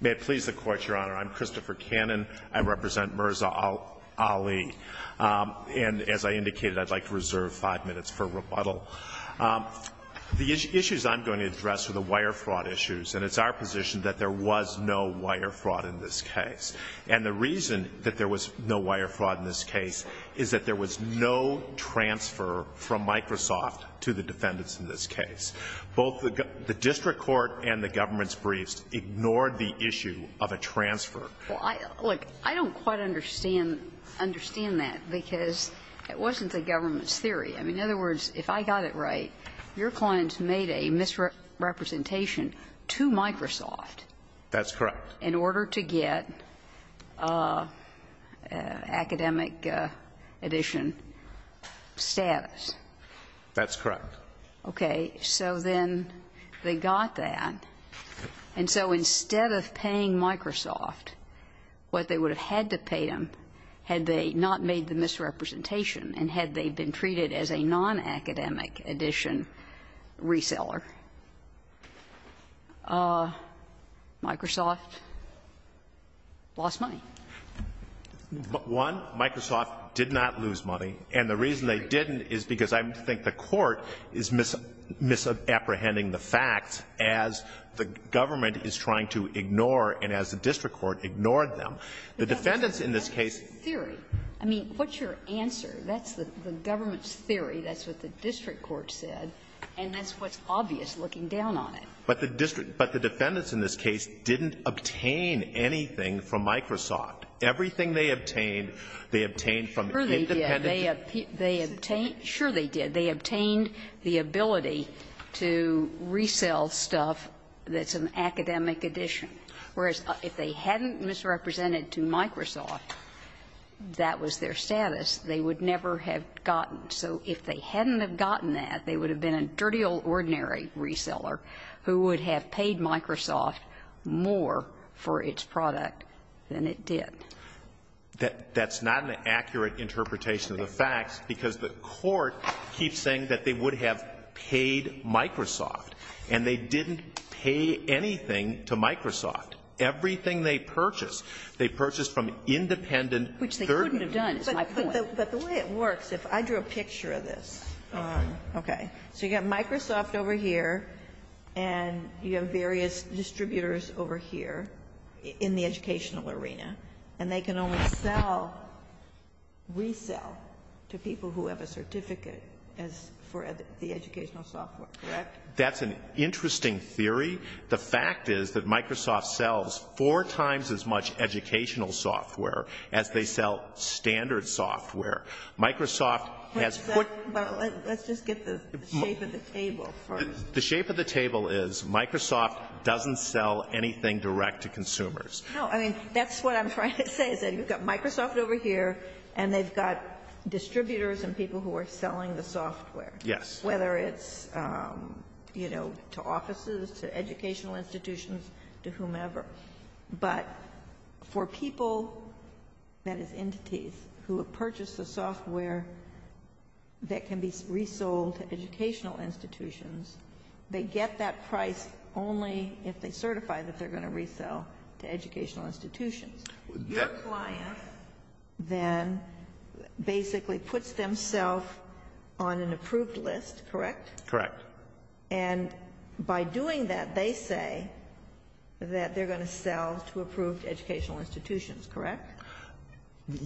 May it please the Court, Your Honor, I'm Christopher Cannon. I represent Mirza Ali, and as I indicated, I'd like to reserve five minutes for rebuttal. The issues I'm going to address are the wire fraud issues, and it's our position that there was no wire fraud in this case. And the reason that there was no wire fraud in this case is that there was no transfer from Microsoft to the defendants in this case. Both the district court and the government's briefs ignored the issue of a transfer. Well, look, I don't quite understand that, because it wasn't the government's theory. I mean, in other words, if I got it right, your clients made a misrepresentation to Microsoft. That's correct. In order to get academic edition status. That's correct. Okay. So then they got that. And so instead of paying Microsoft what they would have had to pay them had they not made the misrepresentation and had they been treated as a nonacademic edition reseller, Microsoft lost money. One, Microsoft did not lose money. And the reason they didn't is because I think the court is misapprehending the facts as the government is trying to ignore and as the district court ignored them. The defendants in this case. Theory. I mean, what's your answer? That's the government's theory. That's what the district court said. And that's what's obvious looking down on it. But the district – but the defendants in this case didn't obtain anything from Microsoft. Everything they obtained, they obtained from independent district courts. Yes. They obtained – sure they did. They obtained the ability to resell stuff that's an academic edition, whereas if they hadn't misrepresented to Microsoft that was their status, they would never have gotten. So if they hadn't have gotten that, they would have been a dirty old ordinary reseller who would have paid Microsoft more for its product than it did. That's not an accurate interpretation of the facts, because the court keeps saying that they would have paid Microsoft, and they didn't pay anything to Microsoft. Everything they purchased, they purchased from independent – Which they couldn't have done, is my point. But the way it works, if I drew a picture of this. Okay. So you have Microsoft over here, and you have various distributors over here in the district, and they can only sell – resell to people who have a certificate as for the educational software, correct? That's an interesting theory. The fact is that Microsoft sells four times as much educational software as they sell standard software. Microsoft has put – Let's just get the shape of the table first. The shape of the table is Microsoft doesn't sell anything direct to consumers. No. I mean, that's what I'm trying to say, is that you've got Microsoft over here, and they've got distributors and people who are selling the software. Yes. Whether it's, you know, to offices, to educational institutions, to whomever. But for people, that is entities, who have purchased the software that can be resold to educational institutions, they get that price only if they certify that they're going to resell to educational institutions. Your client then basically puts themselves on an approved list, correct? Correct. And by doing that, they say that they're going to sell to approved educational institutions, correct?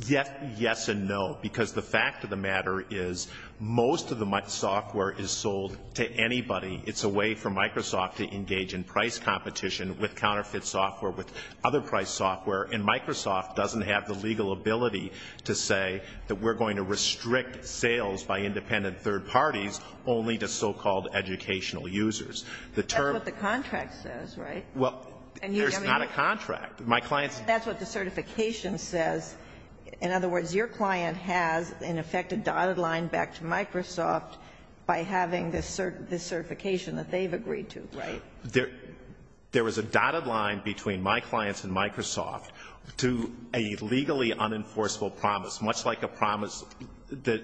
Yes and no, because the fact of the matter is most of the software is sold to anybody. It's a way for Microsoft to engage in price competition with counterfeit software, with other price software, and Microsoft doesn't have the legal ability to say that we're going to restrict sales by independent third parties only to so-called educational users. That's what the contract says, right? Well, there's not a contract. My client's – That's what the certification says. In other words, your client has, in effect, a dotted line back to Microsoft by having this certification that they've agreed to, right? There is a dotted line between my clients and Microsoft to a legally unenforceable promise, much like a promise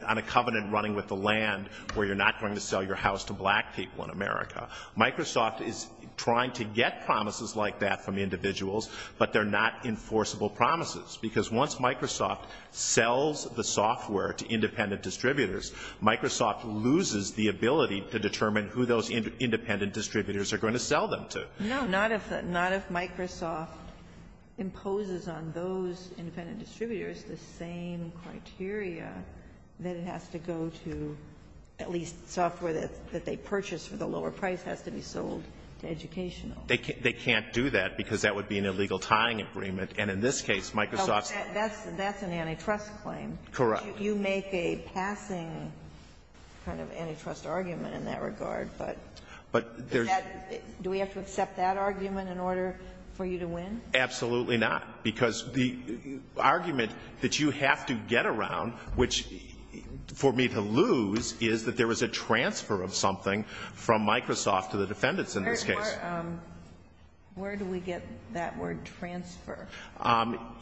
on a covenant running with the land where you're not going to sell your house to black people in America. Microsoft is trying to get promises like that from individuals, but they're not enforceable promises, because once Microsoft sells the software to independent distributors, Microsoft loses the ability to determine who those independent distributors are going to sell them to. No. Not if Microsoft imposes on those independent distributors the same criteria that it has to go to at least software that they purchase for the lower price has to be sold to educational. They can't do that, because that would be an illegal tying agreement. And in this case, Microsoft's – That's an antitrust claim. Correct. You make a passing kind of antitrust argument in that regard, but do we have to accept that argument in order for you to win? Absolutely not, because the argument that you have to get around, which for me to lose, is that there was a transfer of something from Microsoft to the defendants in this case. Where do we get that word transfer?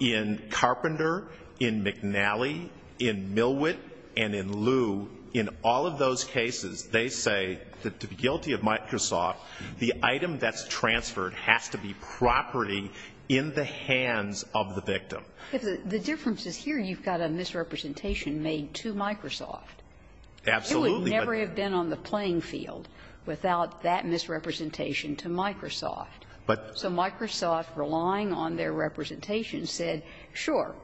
In Carpenter, in McNally, in Millwitt, and in Lew, in all of those cases, they say that to be guilty of Microsoft, the item that's transferred has to be property in the hands of the victim. The difference is here you've got a misrepresentation made to Microsoft. Absolutely. It would never have been on the playing field without that misrepresentation to Microsoft. But the – The fact that Microsoft, relying on their representation, said, sure,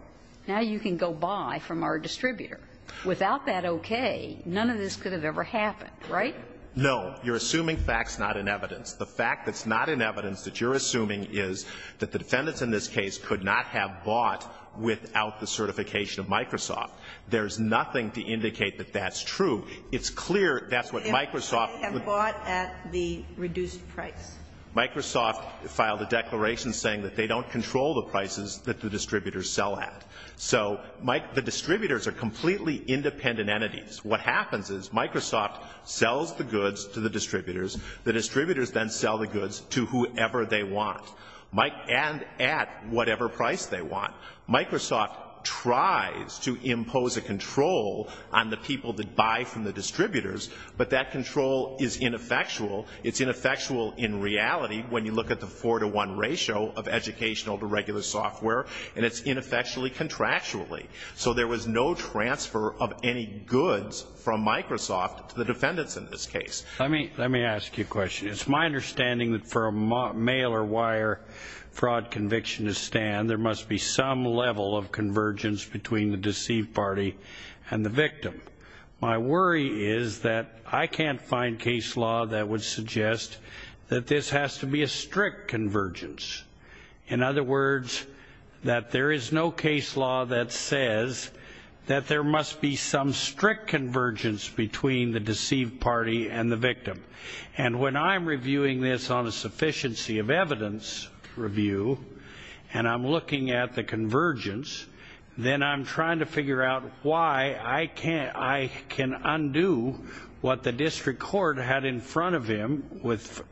now you can go buy from our distributor. Without that okay, none of this could have ever happened, right? No. You're assuming facts, not in evidence. The fact that's not in evidence that you're assuming is that the defendants in this case could not have bought without the certification of Microsoft. There's nothing to indicate that that's true. It's clear that's what Microsoft – They have bought at the reduced price. Microsoft filed a declaration saying that they don't control the prices that the distributors sell at. So the distributors are completely independent entities. What happens is Microsoft sells the goods to the distributors. The distributors then sell the goods to whoever they want and at whatever price they want. Microsoft tries to impose a control on the people that buy from the distributors, but that control is ineffectual. It's ineffectual in reality when you look at the four-to-one ratio of educational to regular software, and it's ineffectually contractually. So there was no transfer of any goods from Microsoft to the defendants in this case. Let me ask you a question. It's my understanding that for a mail-or-wire fraud conviction to stand, there must be some level of convergence between the deceived party and the victim. My worry is that I can't find case law that would suggest that this has to be a strict convergence. In other words, that there is no case law that says that there must be some strict convergence between the deceived party and the victim. And when I'm reviewing this on a sufficiency of evidence review and I'm looking at the I can undo what the district court had in front of him with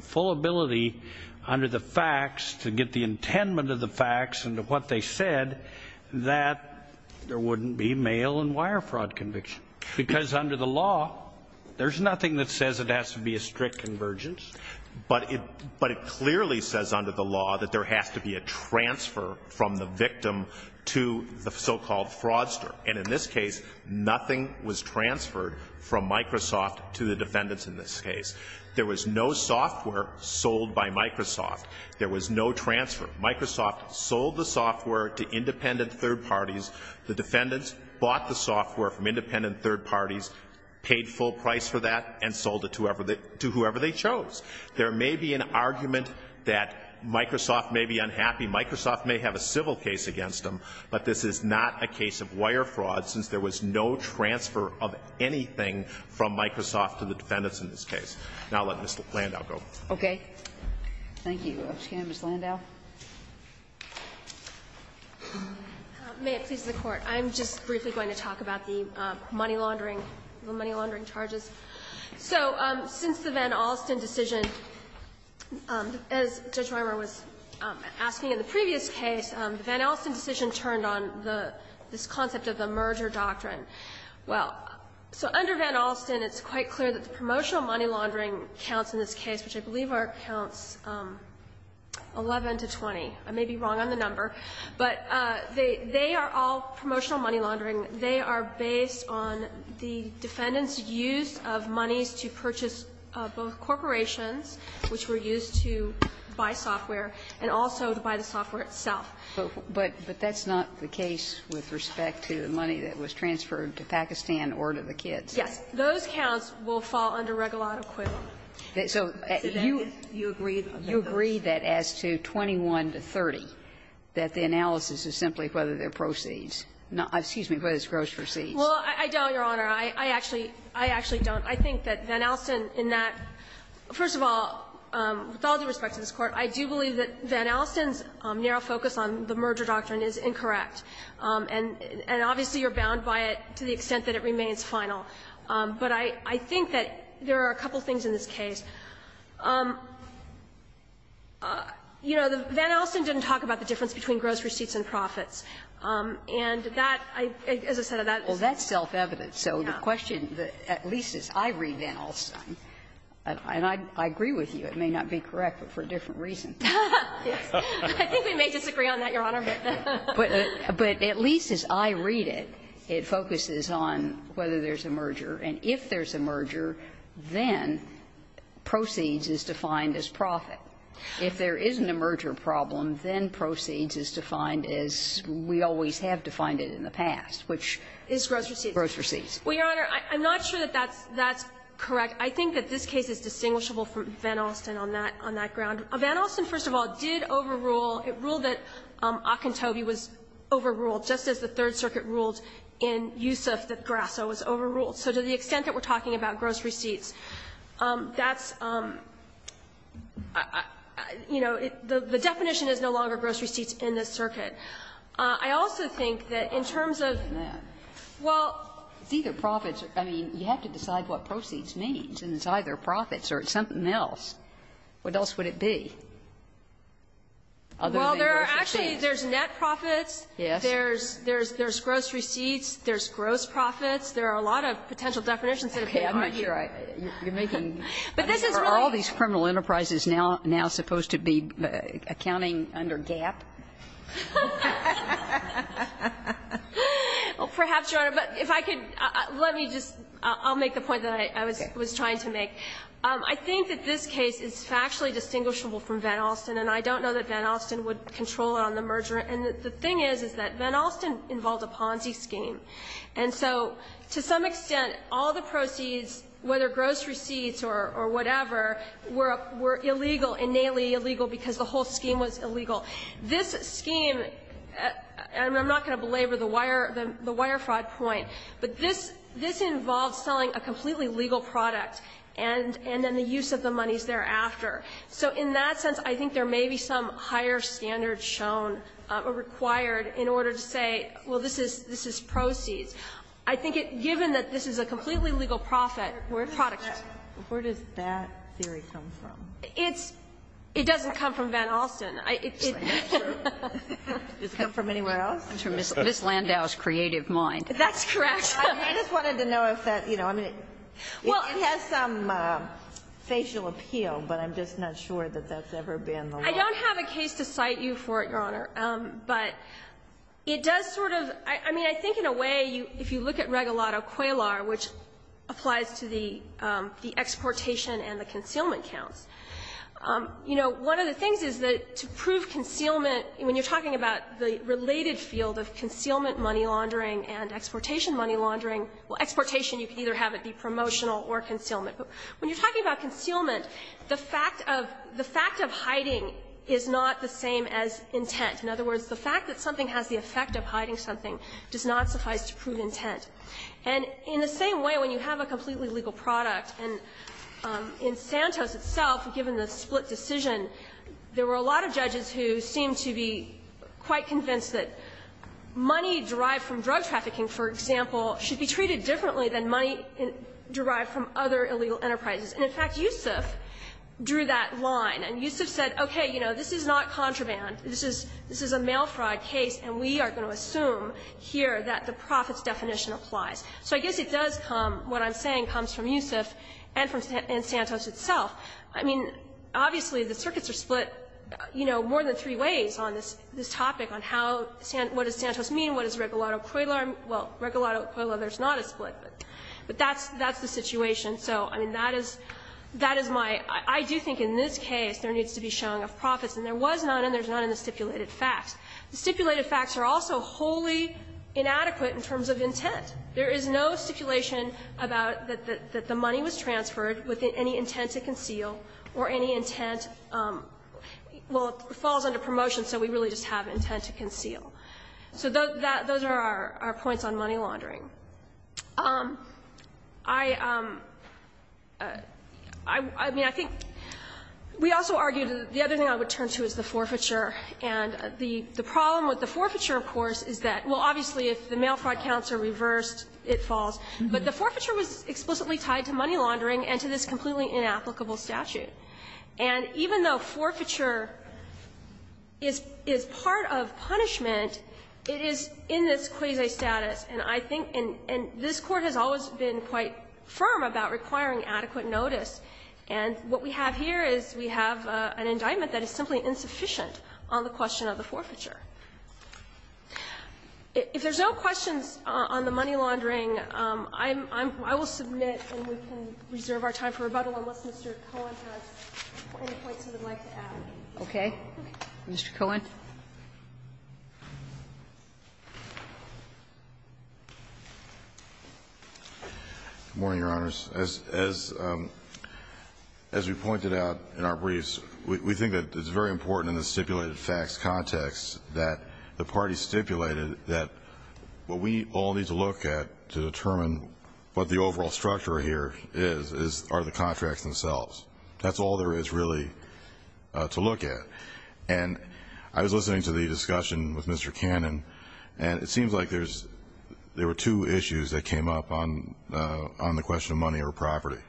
full ability under the facts to get the intendment of the facts and what they said that there wouldn't be mail-and-wire fraud conviction. Because under the law, there's nothing that says it has to be a strict convergence. But it clearly says under the law that there has to be a transfer from the victim to the so-called fraudster. And in this case, nothing was transferred from Microsoft to the defendants in this case. There was no software sold by Microsoft. There was no transfer. Microsoft sold the software to independent third parties. The defendants bought the software from independent third parties, paid full price for that, and sold it to whoever they chose. There may be an argument that Microsoft may be unhappy. Microsoft may have a civil case against them. But this is not a case of wire fraud, since there was no transfer of anything from Microsoft to the defendants in this case. Now, I'll let Ms. Landau go. Kagan. Thank you, Mr. Kagan. Ms. Landau. Landau, may it please the Court. I'm just briefly going to talk about the money laundering, the money laundering charges. So since the Van Alsten decision, as Judge Rimer was asking in the previous case, the Van Alsten decision turned on this concept of the merger doctrine. Well, so under Van Alsten, it's quite clear that the promotional money laundering counts in this case, which I believe counts 11 to 20. I may be wrong on the number. But they are all promotional money laundering. They are based on the defendant's use of monies to purchase both corporations, which were used to buy software, and also to buy the software itself. But that's not the case with respect to the money that was transferred to Pakistan or to the kids. Yes. Those counts will fall under Regulat Acquittal. So you agree that as to 21 to 30, that the analysis is simply whether there are proceeds. Excuse me, whether there are gross proceeds. Well, I don't, Your Honor. I actually don't. I think that Van Alsten, in that, first of all, with all due respect to this Court, I do believe that Van Alsten's narrow focus on the merger doctrine is incorrect. And obviously, you're bound by it to the extent that it remains final. But I think that there are a couple of things in this case. You know, Van Alsten didn't talk about the difference between gross receipts and profits. And that, as I said, that is self-evident. So the question, at least as I read Van Alsten, and I agree with you, it may not be correct, but for a different reason. I think we may disagree on that, Your Honor. But at least as I read it, it focuses on whether there's a merger. And if there's a merger, then proceeds is defined as profit. If there isn't a merger problem, then proceeds is defined as we always have defined it in the past, which is gross receipts. Well, Your Honor, I'm not sure that that's correct. I think that this case is distinguishable from Van Alsten on that ground. Van Alsten, first of all, did overrule. It ruled that Ocantobi was overruled, just as the Third Circuit ruled in Yusuf that Grasso was overruled. So to the extent that we're talking about gross receipts, that's, you know, the definition is no longer gross receipts in this circuit. But it's either profits or, I mean, you have to decide what proceeds means, and it's either profits or it's something else. What else would it be, other than gross receipts? Well, there are actually, there's net profits, there's gross receipts, there's gross profits. There are a lot of potential definitions that have been argued. Okay. I'm not sure I, you're making, are all these criminal enterprises now supposed to be accounting under GAAP? Well, perhaps, Your Honor, but if I could, let me just, I'll make the point that I was trying to make. I think that this case is factually distinguishable from Van Alsten, and I don't know that Van Alsten would control it on the merger. And the thing is, is that Van Alsten involved a Ponzi scheme. And so to some extent, all the proceeds, whether gross receipts or whatever, were illegal, innately illegal, because the whole scheme was illegal. This scheme, and I'm not going to belabor the wire, the wire fraud point, but this involves selling a completely legal product, and then the use of the monies thereafter. So in that sense, I think there may be some higher standards shown or required in order to say, well, this is, this is proceeds. I think it, given that this is a completely legal profit, where products go. Where does that theory come from? It's, it doesn't come from Van Alsten. It's not true. It doesn't come from anywhere else. It's from Ms. Landau's creative mind. That's correct. I just wanted to know if that, you know, I mean, it has some facial appeal, but I'm just not sure that that's ever been the law. I don't have a case to cite you for it, Your Honor. But it does sort of, I mean, I think in a way, if you look at Regalado-Quaylar, which applies to the, the exportation and the concealment counts, you know, one of the things is that to prove concealment, when you're talking about the related field of concealment money laundering and exportation money laundering, well, exportation, you can either have it be promotional or concealment. But when you're talking about concealment, the fact of, the fact of hiding is not the same as intent. In other words, the fact that something has the effect of hiding something does not suffice to prove intent. And in the same way, when you have a completely legal product, and in Santos itself, given the split decision, there were a lot of judges who seemed to be quite convinced that money derived from drug trafficking, for example, should be treated differently than money derived from other illegal enterprises. And in fact, Yusuf drew that line, and Yusuf said, okay, you know, this is not contraband. This is, this is a mail fraud case, and we are going to assume here that the profits definition applies. So I guess it does come, what I'm saying, comes from Yusuf and from, and Santos itself. I mean, obviously, the circuits are split, you know, more than three ways on this, this topic on how, what does Santos mean, what does Regalado-Coelho, well, Regalado-Coelho, there's not a split, but that's, that's the situation. So, I mean, that is, that is my, I do think in this case there needs to be showing of profits, and there was none, and there's none in the stipulated facts. The stipulated facts are also wholly inadequate in terms of intent. There is no stipulation about that the money was transferred with any intent to conceal or any intent, well, it falls under promotion, so we really just have intent to conceal. So those are our points on money laundering. I, I mean, I think, we also argued, the other thing I would turn to is the forfeiture. And the problem with the forfeiture, of course, is that, well, obviously, if the mail fraud counts are reversed, it falls. But the forfeiture was explicitly tied to money laundering and to this completely inapplicable statute. And even though forfeiture is, is part of punishment, it is in this quasi-status. And I think, and, and this Court has always been quite firm about requiring adequate notice. And what we have here is we have an indictment that is simply insufficient on the question of the forfeiture. If there's no questions on the money laundering, I'm, I'm, I will submit and we can Mr. Cohen has any points he would like to add. Okay. Mr. Cohen. Good morning, Your Honors. As, as, as we pointed out in our briefs, we, we think that it's very important in the stipulated facts context that the parties stipulated that what we all need to look at to determine what the overall structure here is, is, are the contracts themselves. That's all there is really to look at. And I was listening to the discussion with Mr. Cannon, and it seems like there's, there were two issues that came up on, on the question of money or property.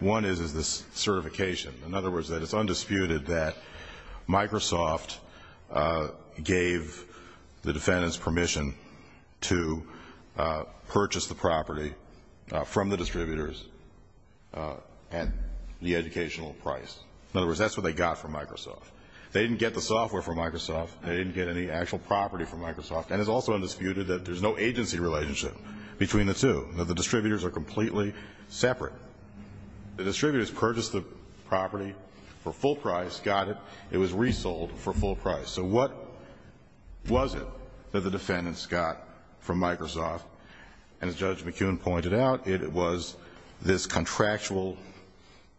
One is, is this certification. In other words, that it's undisputed that Microsoft gave the defendants permission to purchase the property from the distributors at the educational price. In other words, that's what they got from Microsoft. They didn't get the software from Microsoft. They didn't get any actual property from Microsoft. And it's also undisputed that there's no agency relationship between the two. The distributors are completely separate. The distributors purchased the property for full price, got it. It was resold for full price. So what was it that the defendants got from Microsoft? And as Judge McKeown pointed out, it was this contractual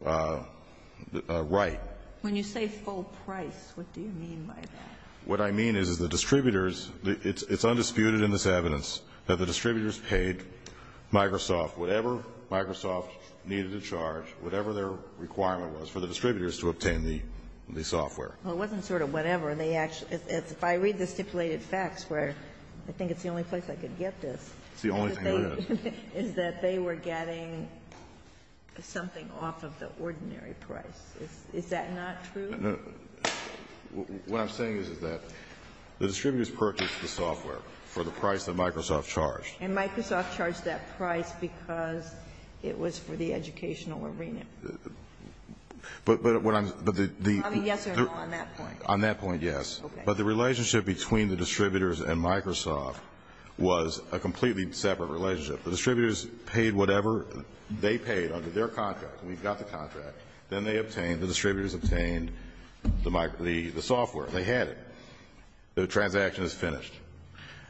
right. When you say full price, what do you mean by that? What I mean is, is the distributors, it's undisputed in this evidence that the distributors paid Microsoft whatever Microsoft needed to charge, whatever their requirement was for the distributors to obtain the, the software. Well, it wasn't sort of whatever. They actually, if I read the stipulated facts where I think it's the only place I could get this. It's the only thing that is. Is that they were getting something off of the ordinary price. Is that not true? No. What I'm saying is, is that the distributors purchased the software for the price that Microsoft charged. And Microsoft charged that price because it was for the educational arena. But what I'm, but the. Yes or no on that point? On that point, yes. Okay. But the relationship between the distributors and Microsoft was a completely separate relationship. The distributors paid whatever they paid under their contract. We've got the contract. Then they obtained, the distributors obtained the Microsoft, the software. They had it. The transaction is finished.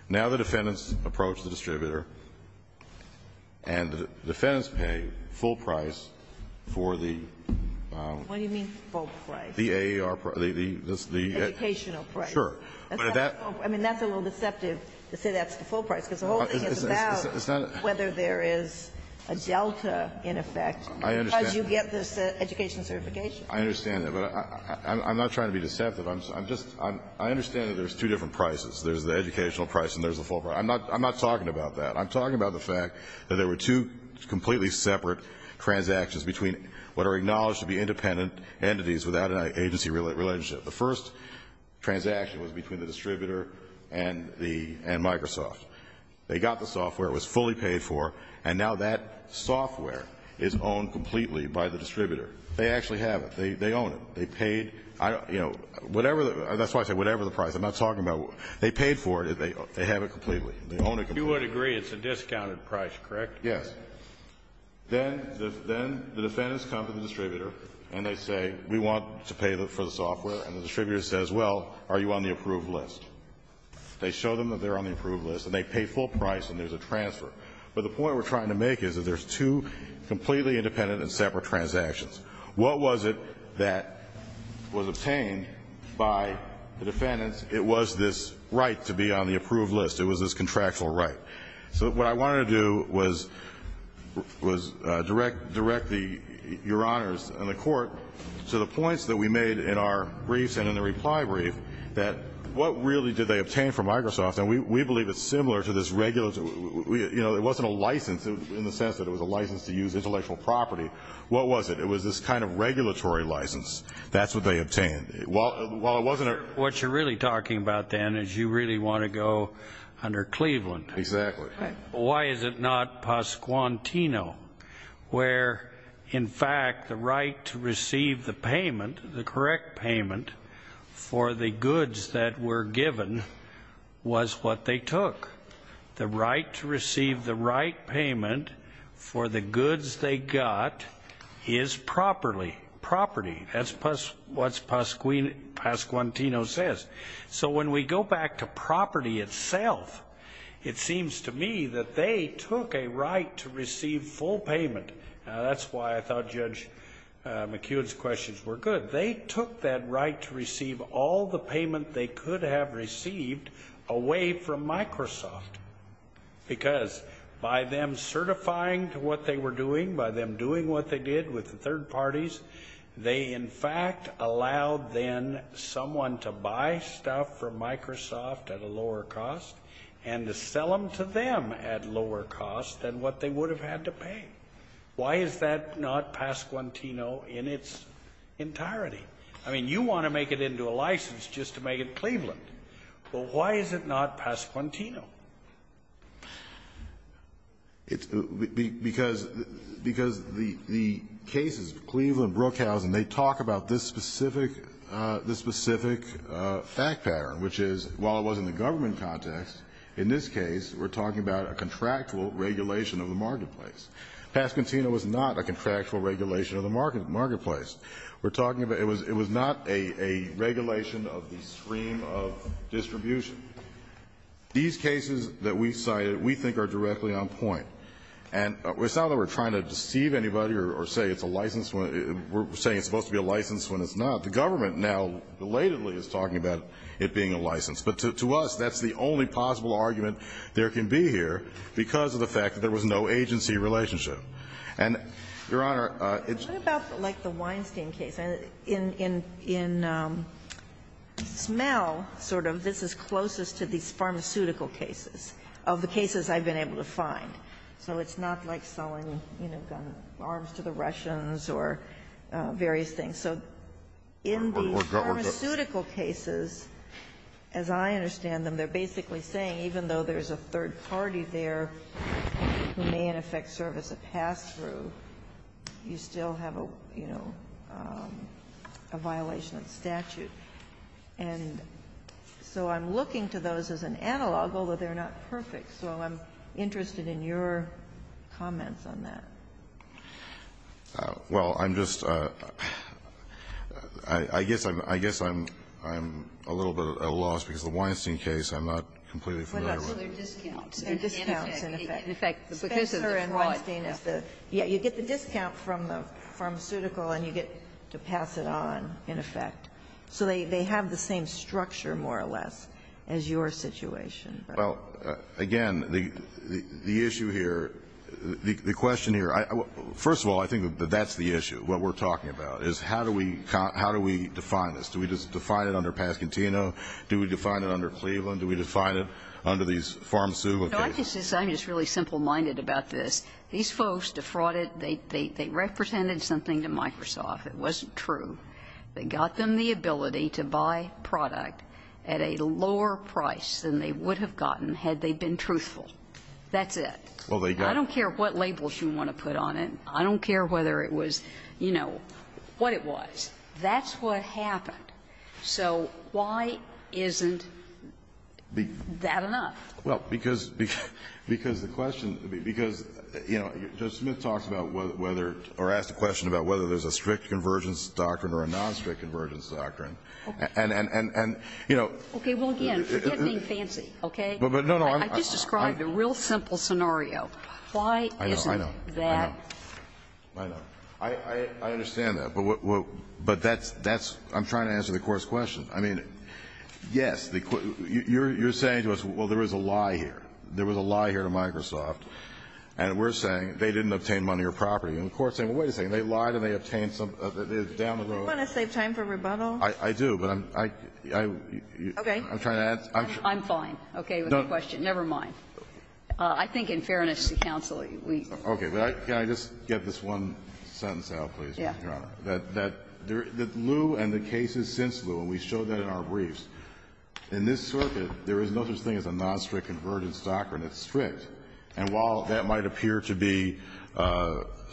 Now the defendants approach the distributor and the defendants pay full price for the. What do you mean full price? The AAR. The educational price. Sure. I mean, that's a little deceptive to say that's the full price. Because the whole thing is about whether there is a delta in effect. I understand. Because you get this education certification. I understand that. But I'm not trying to be deceptive. I'm just, I understand that there's two different prices. There's the educational price and there's the full price. I'm not talking about that. I'm talking about the fact that there were two completely separate transactions between what are acknowledged to be independent entities without an agency relationship. The first transaction was between the distributor and Microsoft. They got the software. It was fully paid for. And now that software is owned completely by the distributor. They actually have it. They own it. They paid, you know, whatever, that's why I say whatever the price. I'm not talking about, they paid for it. They have it completely. They own it completely. You would agree it's a discounted price, correct? Yes. Then the defendants come to the distributor and they say, we want to pay for the software. And the distributor says, well, are you on the approved list? They show them that they're on the approved list. And they pay full price and there's a transfer. But the point we're trying to make is that there's two completely independent and separate transactions. What was it that was obtained by the defendants? It was this right to be on the approved list. It was this contractual right. So what I wanted to do was direct your honors and the court to the points that we made in our briefs and in the reply brief that what really did they obtain from Microsoft? And we believe it's similar to this regular, you know, it wasn't a license in the sense that it was a license to use intellectual property. What was it? It was this kind of regulatory license. That's what they obtained. While it wasn't a... What you're really talking about then is you really want to go under Cleveland. Exactly. Why is it not Pasquantino where, in fact, the right to receive the payment, the correct payment for the goods that were given was what they took. The right to receive the right payment for the goods they got is property. That's what Pasquantino says. So when we go back to property itself, it seems to me that they took a right to receive full payment. Now, that's why I thought Judge McEwen's questions were good. They took that right to receive all the payment they could have received away from Microsoft because by them certifying to what they were doing, by them doing what they did with the third parties, they, in fact, allowed then someone to buy stuff from Microsoft at a lower cost and to sell them to them at lower cost than what they would have had to pay. Why is that not Pasquantino in its entirety? I mean, you want to make it into a license just to make it Cleveland. Well, why is it not Pasquantino? Because the cases, Cleveland, Brookhousen, they talk about this specific fact pattern, which is while it was in the government context, in this case, we're talking about a contractual regulation of the marketplace. Pasquantino was not a contractual regulation of the marketplace. We're talking about it was not a regulation of the stream of distribution. These cases that we cited we think are directly on point. And it's not that we're trying to deceive anybody or say it's a license. We're saying it's supposed to be a license when it's not. The government now belatedly is talking about it being a license. But to us, that's the only possible argument there can be here because of the fact that there was no agency relationship. And, Your Honor, it's – What about like the Weinstein case? In Smell, sort of, this is closest to these pharmaceutical cases of the cases I've been able to find. So it's not like selling, you know, arms to the Russians or various things. So in these pharmaceutical cases, as I understand them, they're basically saying even though there's a third party there who may, in effect, service a pass-through, you still have a, you know, a violation of statute. And so I'm looking to those as an analog, although they're not perfect. So I'm interested in your comments on that. Well, I'm just – I guess I'm – I guess I'm a little bit at a loss because of the Weinstein case I'm not completely familiar with. But also their discounts. Their discounts, in effect. In effect. Spencer and Weinstein is the – yeah, you get the discount from the pharmaceutical and you get to pass it on, in effect. So they have the same structure, more or less, as your situation. Well, again, the issue here, the question here – first of all, I think that that's the issue, what we're talking about, is how do we – how do we define this? Do we just define it under Pasquantino? Do we define it under Cleveland? Do we define it under these pharmaceutical cases? No, I just – I'm just really simple-minded about this. These folks defrauded – they represented something to Microsoft. It wasn't true. They got them the ability to buy product at a lower price than they would have gotten had they been truthful. That's it. Well, they got it. I don't care what labels you want to put on it. I don't care whether it was, you know, what it was. That's what happened. So why isn't that enough? Well, because the question – because, you know, Judge Smith talks about whether – or asked a question about whether there's a strict convergence doctrine or a non-strict convergence doctrine. And, you know – Okay. Well, again, forget being fancy, okay? But, no, no, I'm – I just described a real simple scenario. Why isn't that – I know. I know. I know. I understand that. But that's – I'm trying to answer the Court's question. I mean, yes, the – you're saying to us, well, there is a lie here. There was a lie here to Microsoft. And we're saying they didn't obtain money or property. And the Court's saying, well, wait a second, they lied and they obtained some – down the road. Do you want to save time for rebuttal? I do, but I'm – I'm trying to answer. Okay. I'm fine, okay, with the question. No. Never mind. I think in fairness to counsel, we – Okay. Can I just get this one sentence out, please, Your Honor? That there – that Lew and the cases since Lew, and we showed that in our briefs, in this circuit, there is no such thing as a non-strict convergence doctrine. It's strict. And while that might appear to be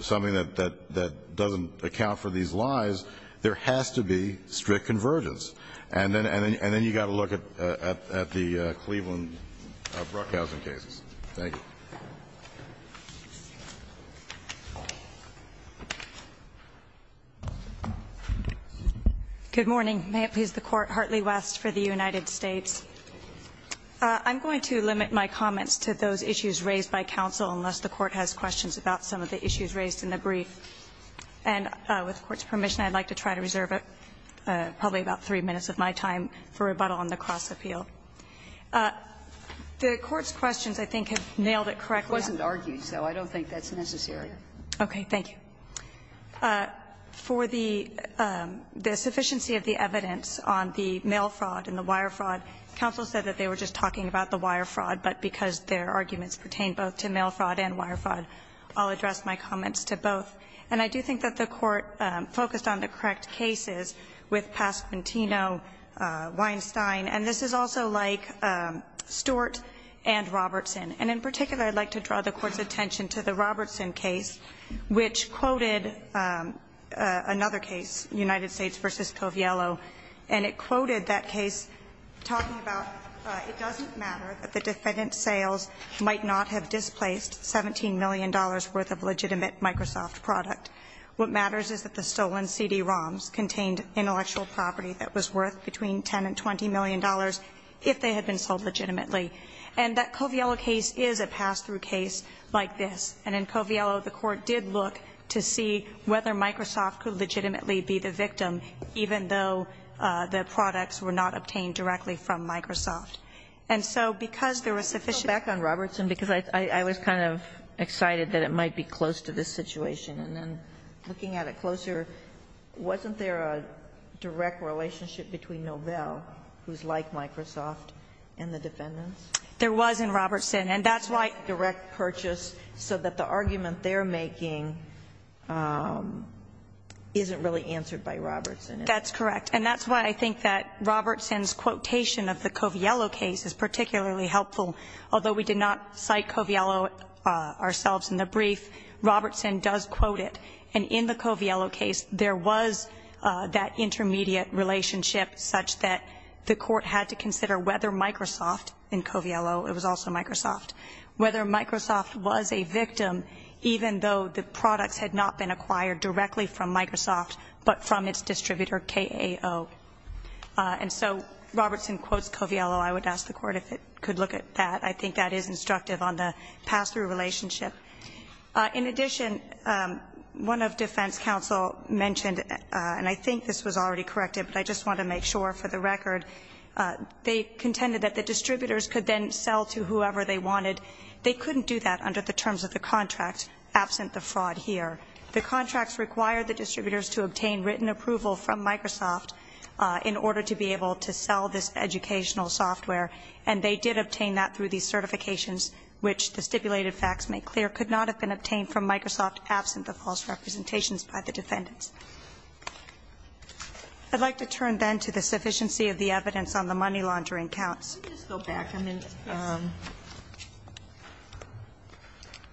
something that doesn't account for these lies, there has to be strict convergence. And then you've got to look at the Cleveland-Bruckhausen cases. Thank you. Good morning. May it please the Court. Hartley West for the United States. I'm going to limit my comments to those issues raised by counsel unless the Court has questions about some of the issues raised in the brief. And with the Court's permission, I'd like to try to reserve probably about three minutes of my time for rebuttal on the cross-appeal. The Court's questions, I think, have nailed it correctly. It wasn't argued, so I don't think that's necessary. Okay. Thank you. For the sufficiency of the evidence on the mail fraud and the wire fraud, counsel said that they were just talking about the wire fraud, but because their arguments pertain both to mail fraud and wire fraud, I'll address my comments to both. And I do think that the Court focused on the correct cases with Pasquantino, Weinstein, and this is also like Stewart and Robertson. And in particular, I'd like to draw the Court's attention to the Robertson case, which quoted another case, United States v. Coviello, and it quoted that case talking about it doesn't matter that the defendant sales might not have displaced $17 million worth of legitimate Microsoft product. What matters is that the stolen CD-ROMs contained intellectual property that was worth between $10 and $20 million if they had been sold legitimately. And that Coviello case is a pass-through case like this. And in Coviello, the Court did look to see whether Microsoft could legitimately be the victim, even though the products were not obtained directly from Microsoft. And so because there was sufficient ---- Can I go back on Robertson? Because I was kind of excited that it might be close to this situation. And then looking at it closer, wasn't there a direct relationship between Novell, who's like Microsoft, and the defendants? There was in Robertson. And that's why ---- Direct purchase so that the argument they're making isn't really answered by Robertson. That's correct. And that's why I think that Robertson's quotation of the Coviello case is particularly helpful. Although we did not cite Coviello ourselves in the brief, Robertson does quote it. And in the Coviello case, there was that intermediate relationship such that the whether Microsoft was a victim, even though the products had not been acquired directly from Microsoft, but from its distributor, KAO. And so Robertson quotes Coviello. I would ask the Court if it could look at that. I think that is instructive on the pass-through relationship. In addition, one of defense counsel mentioned, and I think this was already corrected, but I just want to make sure for the record, they contended that the they couldn't do that under the terms of the contract absent the fraud here. The contracts require the distributors to obtain written approval from Microsoft in order to be able to sell this educational software. And they did obtain that through these certifications, which the stipulated facts make clear could not have been obtained from Microsoft absent the false representations by the defendants. I'd like to turn then to the sufficiency of the evidence on the money laundering counts. I'll just go back a minute. Yes.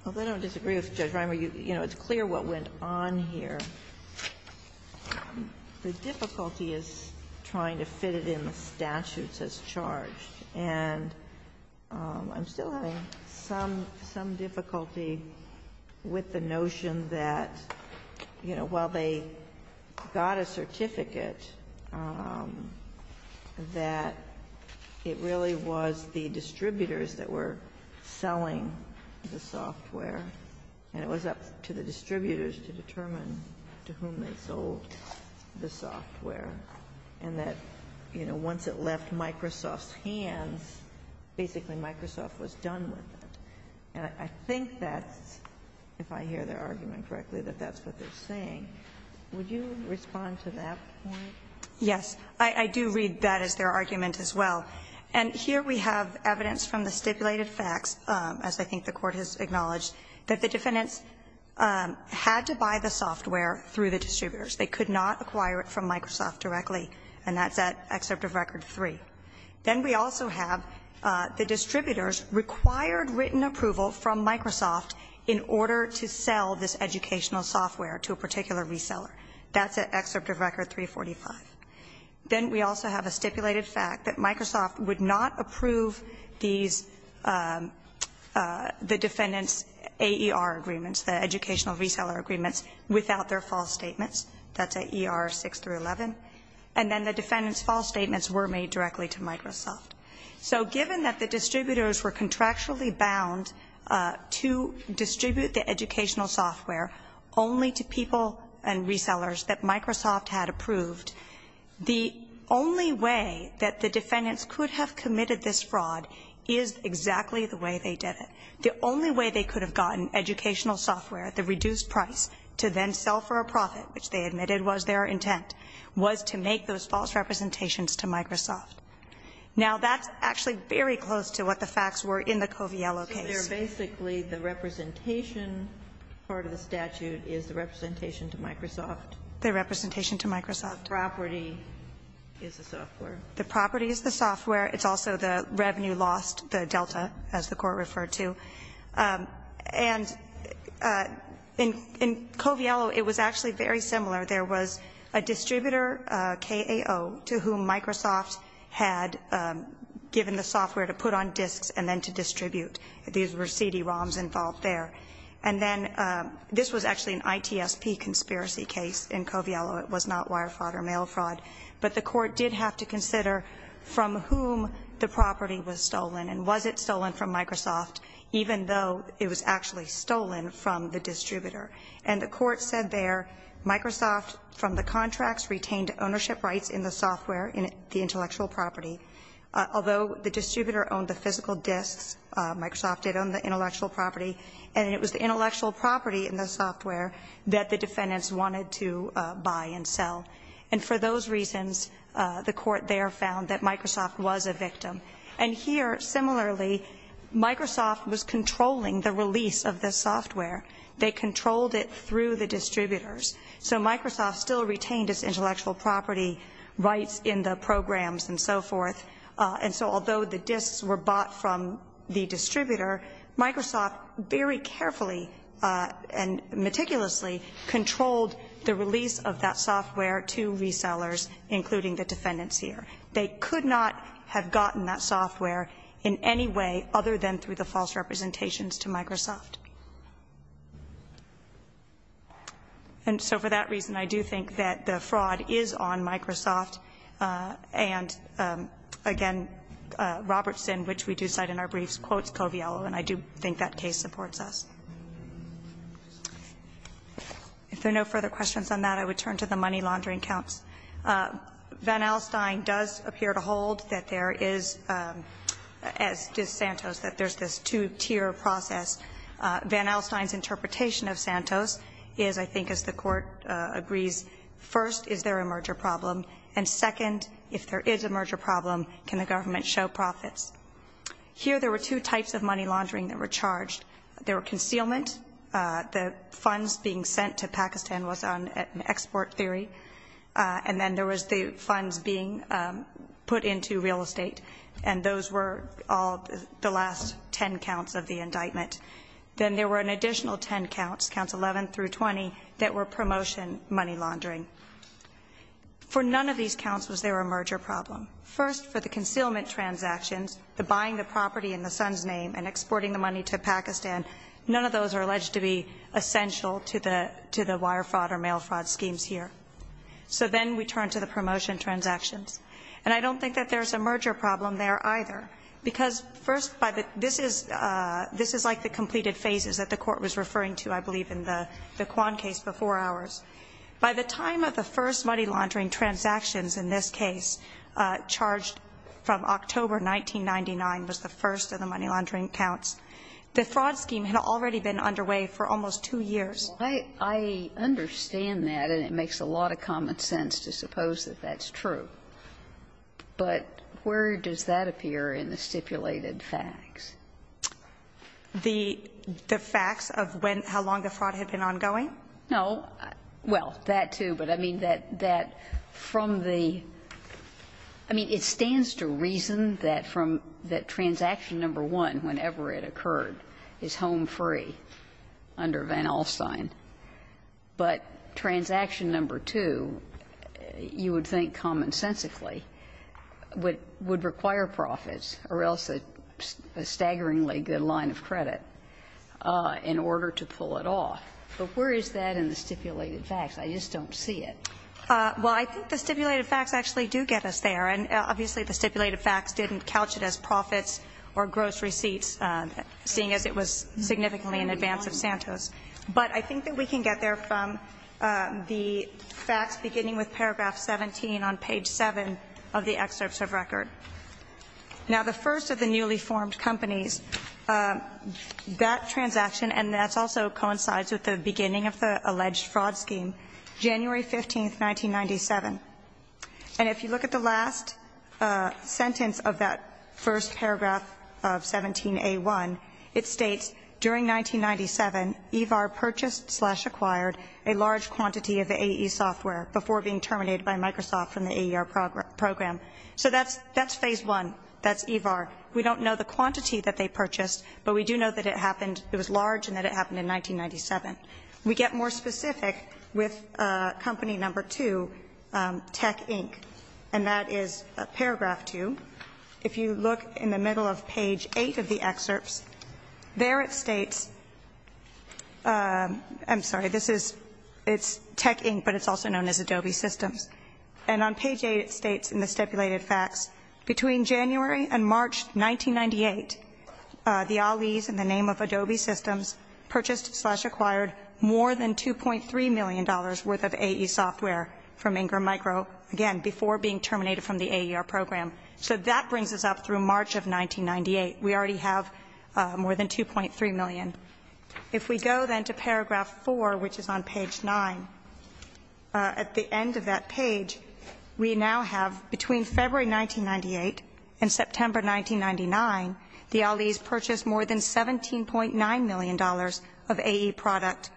Although I don't disagree with Judge Reimer, you know, it's clear what went on here. The difficulty is trying to fit it in the statutes as charged. And I'm still having some difficulty with the notion that, you know, while they got a certificate that it really was the distributors that were selling the software, and it was up to the distributors to determine to whom they sold the software, and that, you know, once it left Microsoft's hands, basically Microsoft was done with it. And I think that's, if I hear their argument correctly, that that's what they're saying. Would you respond to that point? Yes. I do read that as their argument as well. And here we have evidence from the stipulated facts, as I think the Court has acknowledged, that the defendants had to buy the software through the distributors. They could not acquire it from Microsoft directly, and that's at excerpt of Record 3. Then we also have the distributors required written approval from Microsoft in order to sell this educational software to a particular reseller. That's at excerpt of Record 345. Then we also have a stipulated fact that Microsoft would not approve these, the defendants' AER agreements, the educational reseller agreements, without their false statements. That's at ER 6 through 11. So given that the distributors were contractually bound to distribute the educational software only to people and resellers that Microsoft had approved, the only way that the defendants could have committed this fraud is exactly the way they did it. The only way they could have gotten educational software at the reduced price to then sell for a profit, which they admitted was their intent, was to make those false representations to Microsoft. Now, that's actually very close to what the facts were in the Coviello case. So they're basically the representation part of the statute is the representation to Microsoft. The representation to Microsoft. The property is the software. The property is the software. It's also the revenue lost, the delta, as the Court referred to. And in Coviello, it was actually very similar. There was a distributor, KAO, to whom Microsoft had given the software to put on disks and then to distribute. These were CD-ROMs involved there. And then this was actually an ITSP conspiracy case in Coviello. It was not wire fraud or mail fraud. But the Court did have to consider from whom the property was stolen and was it stolen from Microsoft, even though it was actually stolen from the distributor. And the Court said there, Microsoft, from the contracts, retained ownership rights in the software, in the intellectual property. Although the distributor owned the physical disks, Microsoft did own the intellectual property, and it was the intellectual property in the software that the defendants wanted to buy and sell. And for those reasons, the Court there found that Microsoft was a victim. And here, similarly, Microsoft was controlling the release of the software. They controlled it through the distributors. So Microsoft still retained its intellectual property rights in the programs and so forth, and so although the disks were bought from the distributor, Microsoft very carefully and meticulously controlled the release of that software to resellers, including the defendants here. They could not have gotten that software in any way other than through the false representations to Microsoft. And so for that reason, I do think that the fraud is on Microsoft and, again, Robertson, which we do cite in our briefs, quotes Coviello, and I do think that case supports us. If there are no further questions on that, I would turn to the money laundering counts. Van Alstyne does appear to hold that there is, as does Santos, that there is this two-tier process. Van Alstyne's interpretation of Santos is, I think as the Court agrees, first, is there a merger problem? And second, if there is a merger problem, can the government show profits? Here, there were two types of money laundering that were charged. There were concealment. The funds being sent to Pakistan was on export theory. And then there was the funds being put into real estate. And those were all the last 10 counts of the indictment. Then there were an additional 10 counts, counts 11 through 20, that were promotion money laundering. For none of these counts was there a merger problem. First, for the concealment transactions, the buying the property in the son's name and exporting the money to Pakistan, none of those are alleged to be essential to the wire fraud or mail fraud schemes here. So then we turn to the promotion transactions. And I don't think that there's a merger problem there either. Because first, this is like the completed phases that the Court was referring to, I believe, in the Quan case before ours. By the time of the first money laundering transactions in this case, charged from October 1999, was the first of the money laundering counts, the fraud scheme had already been underway for almost two years. I understand that, and it makes a lot of common sense to suppose that that's true. But where does that appear in the stipulated facts? The facts of when, how long the fraud had been ongoing? No. Well, that too. But I mean, that from the, I mean, it stands to reason that from, that transaction number one, whenever it occurred, is home free under Van Alstyne. But transaction number two, you would think commonsensically, would require profits or else a staggeringly good line of credit in order to pull it off. But where is that in the stipulated facts? I just don't see it. Well, I think the stipulated facts actually do get us there. And obviously, the stipulated facts didn't couch it as profits or gross receipts, seeing as it was significantly in advance of Santos. But I think that we can get there from the facts beginning with paragraph 17 on page 7 of the excerpts of record. Now, the first of the newly formed companies, that transaction, and that also coincides with the beginning of the alleged fraud scheme, January 15, 1997. And if you look at the last sentence of that first paragraph of 17A1, it states, During 1997, EVAR purchased slash acquired a large quantity of the AE software before being terminated by Microsoft from the AER program. So that's phase one. That's EVAR. We don't know the quantity that they purchased, but we do know that it happened It was large and that it happened in 1997. We get more specific with company number two, Tech Inc. And that is paragraph two. If you look in the middle of page eight of the excerpts, there it states, I'm sorry, this is, it's Tech Inc., but it's also known as Adobe Systems. And on page eight it states in the stipulated facts, Between January and March 1998, the Ahlees, in the name of Adobe Systems, purchased slash acquired more than $2.3 million worth of AE software from Ingram Micro, again, before being terminated from the AER program. So that brings us up through March of 1998. We already have more than $2.3 million. If we go then to paragraph four, which is on page nine, at the end of that page, we now have between February 1998 and September 1999, the Ahlees purchased more than $17.9 million of AE product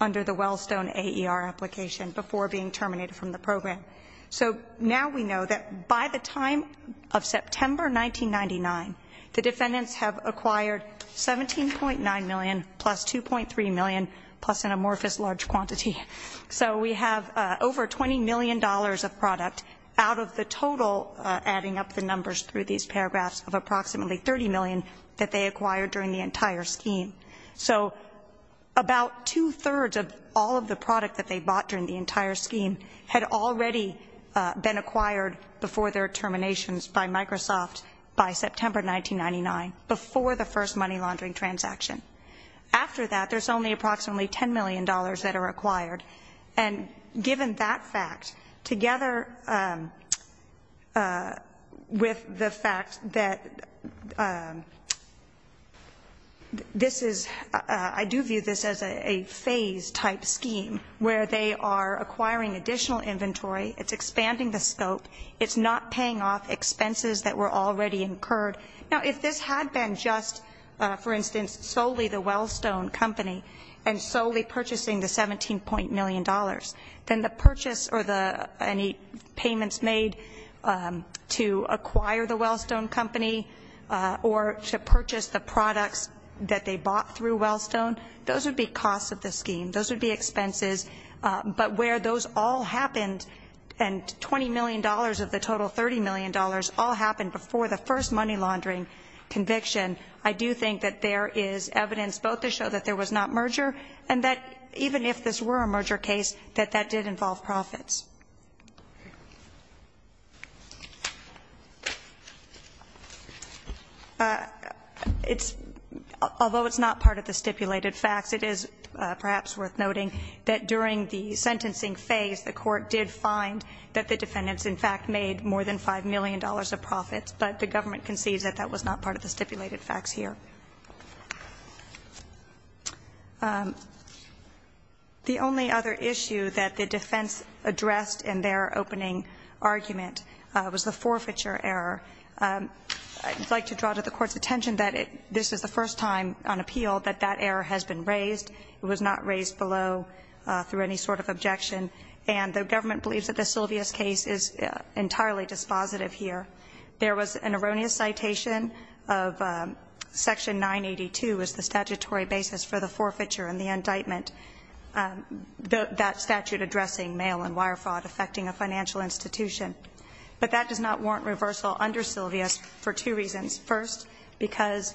under the Wellstone AER application before being terminated from the program. So now we know that by the time of September 1999, the defendants have acquired $17.9 million plus $2.3 million plus an amorphous large quantity. So we have over $20 million of product out of the total, adding up the numbers through these paragraphs, of approximately $30 million that they acquired during the entire scheme. So about two-thirds of all of the product that they bought during the entire scheme had already been acquired before their terminations by Microsoft by September 1999, before the first money laundering transaction. After that, there's only approximately $10 million that are acquired. And given that fact, together with the fact that this is – I do view this as a phase-type scheme where they are acquiring additional inventory, it's expanding the scope, it's not paying off expenses that were already incurred. Now, if this had been just, for instance, solely the Wellstone company and solely purchasing the $17.0 million, then the purchase or any payments made to acquire the Wellstone company or to purchase the products that they purchased would be costs of the scheme. Those would be expenses. But where those all happened and $20 million of the total $30 million all happened before the first money laundering conviction, I do think that there is evidence both to show that there was not merger and that even if this were a merger case, that that did involve profits. It's – although it's not part of the stipulated facts, it is perhaps worth noting that during the sentencing phase, the court did find that the defendants, in fact, made more than $5 million of profits. But the government concedes that that was not part of the stipulated facts here. in their opening argument was the forfeiture error. I'd like to draw to the court's attention that this is the first time on appeal that that error has been raised. It was not raised below through any sort of objection. And the government believes that the Sylvia's case is entirely dispositive here. There was an erroneous citation of Section 982 as the statutory basis for the financial institution. But that does not warrant reversal under Sylvia's for two reasons. First, because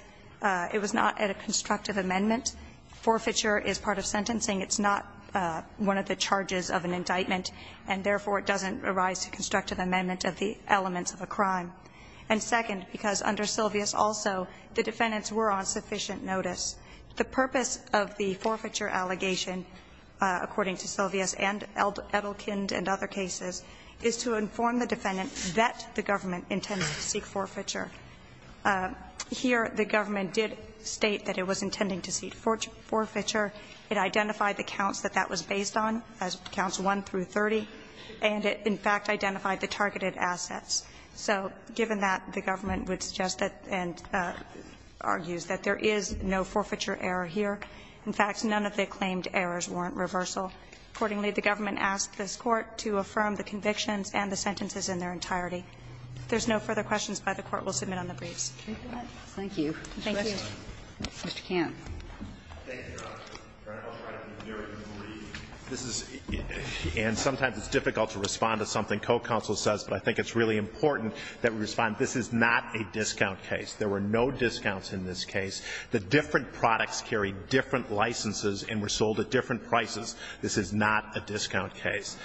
it was not at a constructive amendment. Forfeiture is part of sentencing. It's not one of the charges of an indictment. And therefore, it doesn't arise to constructive amendment of the elements of a crime. And second, because under Sylvia's also, the defendants were on sufficient notice. The purpose of the forfeiture allegation, according to Sylvia's and Edelkind and other cases, is to inform the defendant that the government intends to seek forfeiture. Here, the government did state that it was intending to seek forfeiture. It identified the counts that that was based on as counts 1 through 30. And it, in fact, identified the targeted assets. So given that, the government would suggest that and argues that there is no forfeiture error here. In fact, none of the claimed errors warrant reversal. Accordingly, the government asked this Court to affirm the convictions and the sentences in their entirety. If there's no further questions, by the Court will submit on the briefs. Thank you. Thank you. Mr. Canne. Thank you, Your Honor. Your Honor, I'll try to be very brief. This is and sometimes it's difficult to respond to something co-counsel says, but I think it's really important that we respond. This is not a discount case. There were no discounts in this case. The different products carried different licenses and were sold at different prices. This is not a discount case.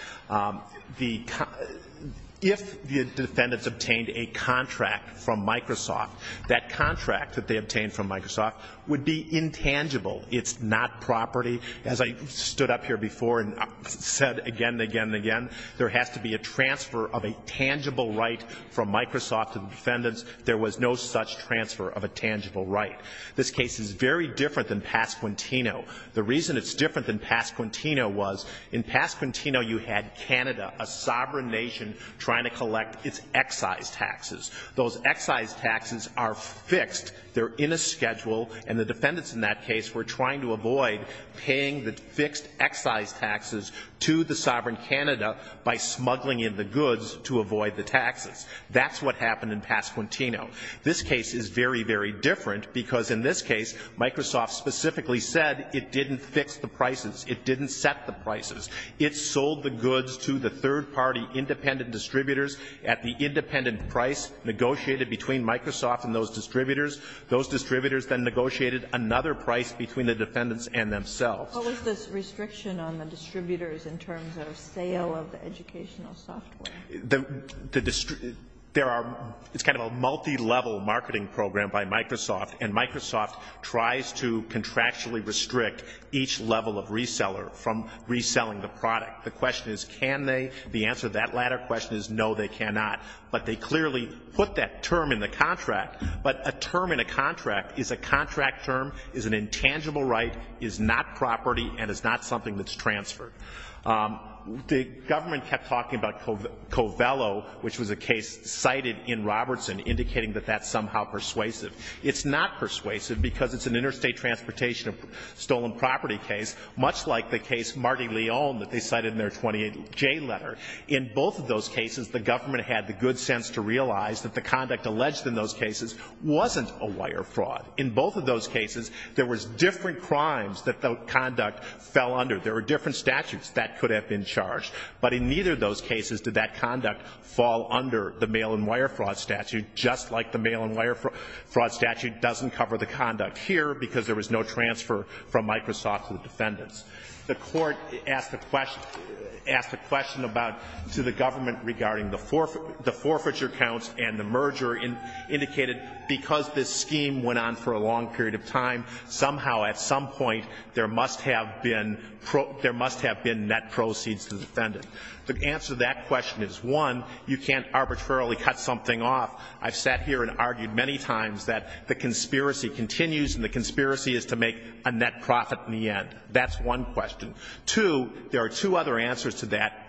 If the defendants obtained a contract from Microsoft, that contract that they obtained from Microsoft would be intangible. It's not property. As I stood up here before and said again and again and again, there has to be a transfer of a tangible right from Microsoft to the defendants. There was no such transfer of a tangible right. This case is very different than Pass Quintino. The reason it's different than Pass Quintino was in Pass Quintino you had Canada, a sovereign nation, trying to collect its excise taxes. Those excise taxes are fixed. They're in a schedule and the defendants in that case were trying to avoid paying the fixed excise taxes to the sovereign Canada by smuggling in the goods to avoid the taxes. That's what happened in Pass Quintino. This case is very, very different because in this case Microsoft specifically said it didn't fix the prices. It didn't set the prices. It sold the goods to the third party independent distributors at the independent price negotiated between Microsoft and those distributors. Those distributors then negotiated another price between the defendants and themselves. What was this restriction on the distributors in terms of sale of the educational software? It's kind of a multi-level marketing program by Microsoft and Microsoft tries to contractually restrict each level of reseller from reselling the product. The question is can they? The answer to that latter question is no, they cannot. But they clearly put that term in the contract. But a term in a contract is a contract term, is an intangible right, is not property, and is not something that's transferred. The government kept talking about Covello, which was a case cited in Robertson, indicating that that's somehow persuasive. It's not persuasive because it's an interstate transportation stolen property case, much like the case Marty Leone that they cited in their 28J letter. In both of those cases, the government had the good sense to realize that the conduct alleged in those cases wasn't a wire fraud. In both of those cases, there was different crimes that the conduct fell under. There were different statutes that could have been charged. But in neither of those cases did that conduct fall under the mail and wire fraud statute, just like the mail and wire fraud statute doesn't cover the conduct here because there was no transfer from Microsoft to the defendants. The court asked a question about to the government regarding the forfeiture counts and the merger and indicated because this scheme went on for a long period of time, somehow at some point there must have been net proceeds to the defendant. The answer to that question is, one, you can't arbitrarily cut something off. I've sat here and argued many times that the conspiracy continues and the conspiracy is to make a net profit in the end. That's one question. Two, there are two other answers to that.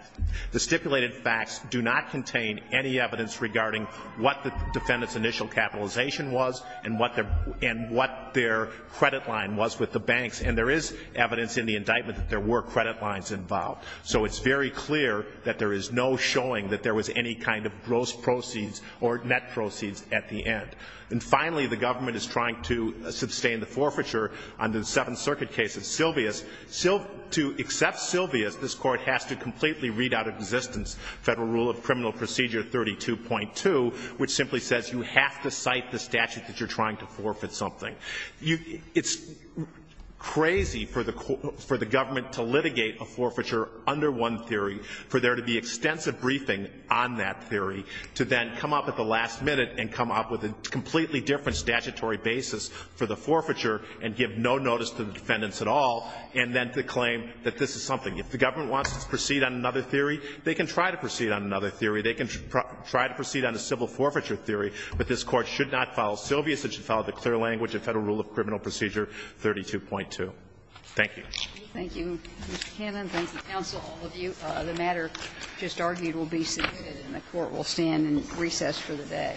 The stipulated facts do not contain any evidence regarding what the defendant's initial capitalization was and what their credit line was with the banks. And there is evidence in the indictment that there were credit lines involved. So it's very clear that there is no showing that there was any kind of gross proceeds or net proceeds at the end. And finally, the government is trying to sustain the forfeiture under the Seventh Circuit case of Silvius. To accept Silvius, this Court has to completely read out of existence Federal Rule of Criminal Procedure 32.2, which simply says you have to cite the statute that you're trying to forfeit something. It's crazy for the government to litigate a forfeiture under one theory, for there to be extensive briefing on that theory, to then come up at the last minute and come up with a completely different statutory basis for the forfeiture and give no notice to the defendants at all, and then to claim that this is something. If the government wants to proceed on another theory, they can try to proceed on another theory. They can try to proceed on a civil forfeiture theory, but this Court should not follow Silvius, it should follow the clear language of Federal Rule of Criminal Procedure 32.2. Thank you. Thank you, Mr. Cannon. Thank you, counsel, all of you. The matter just argued will be submitted and the Court will stand in recess for the day.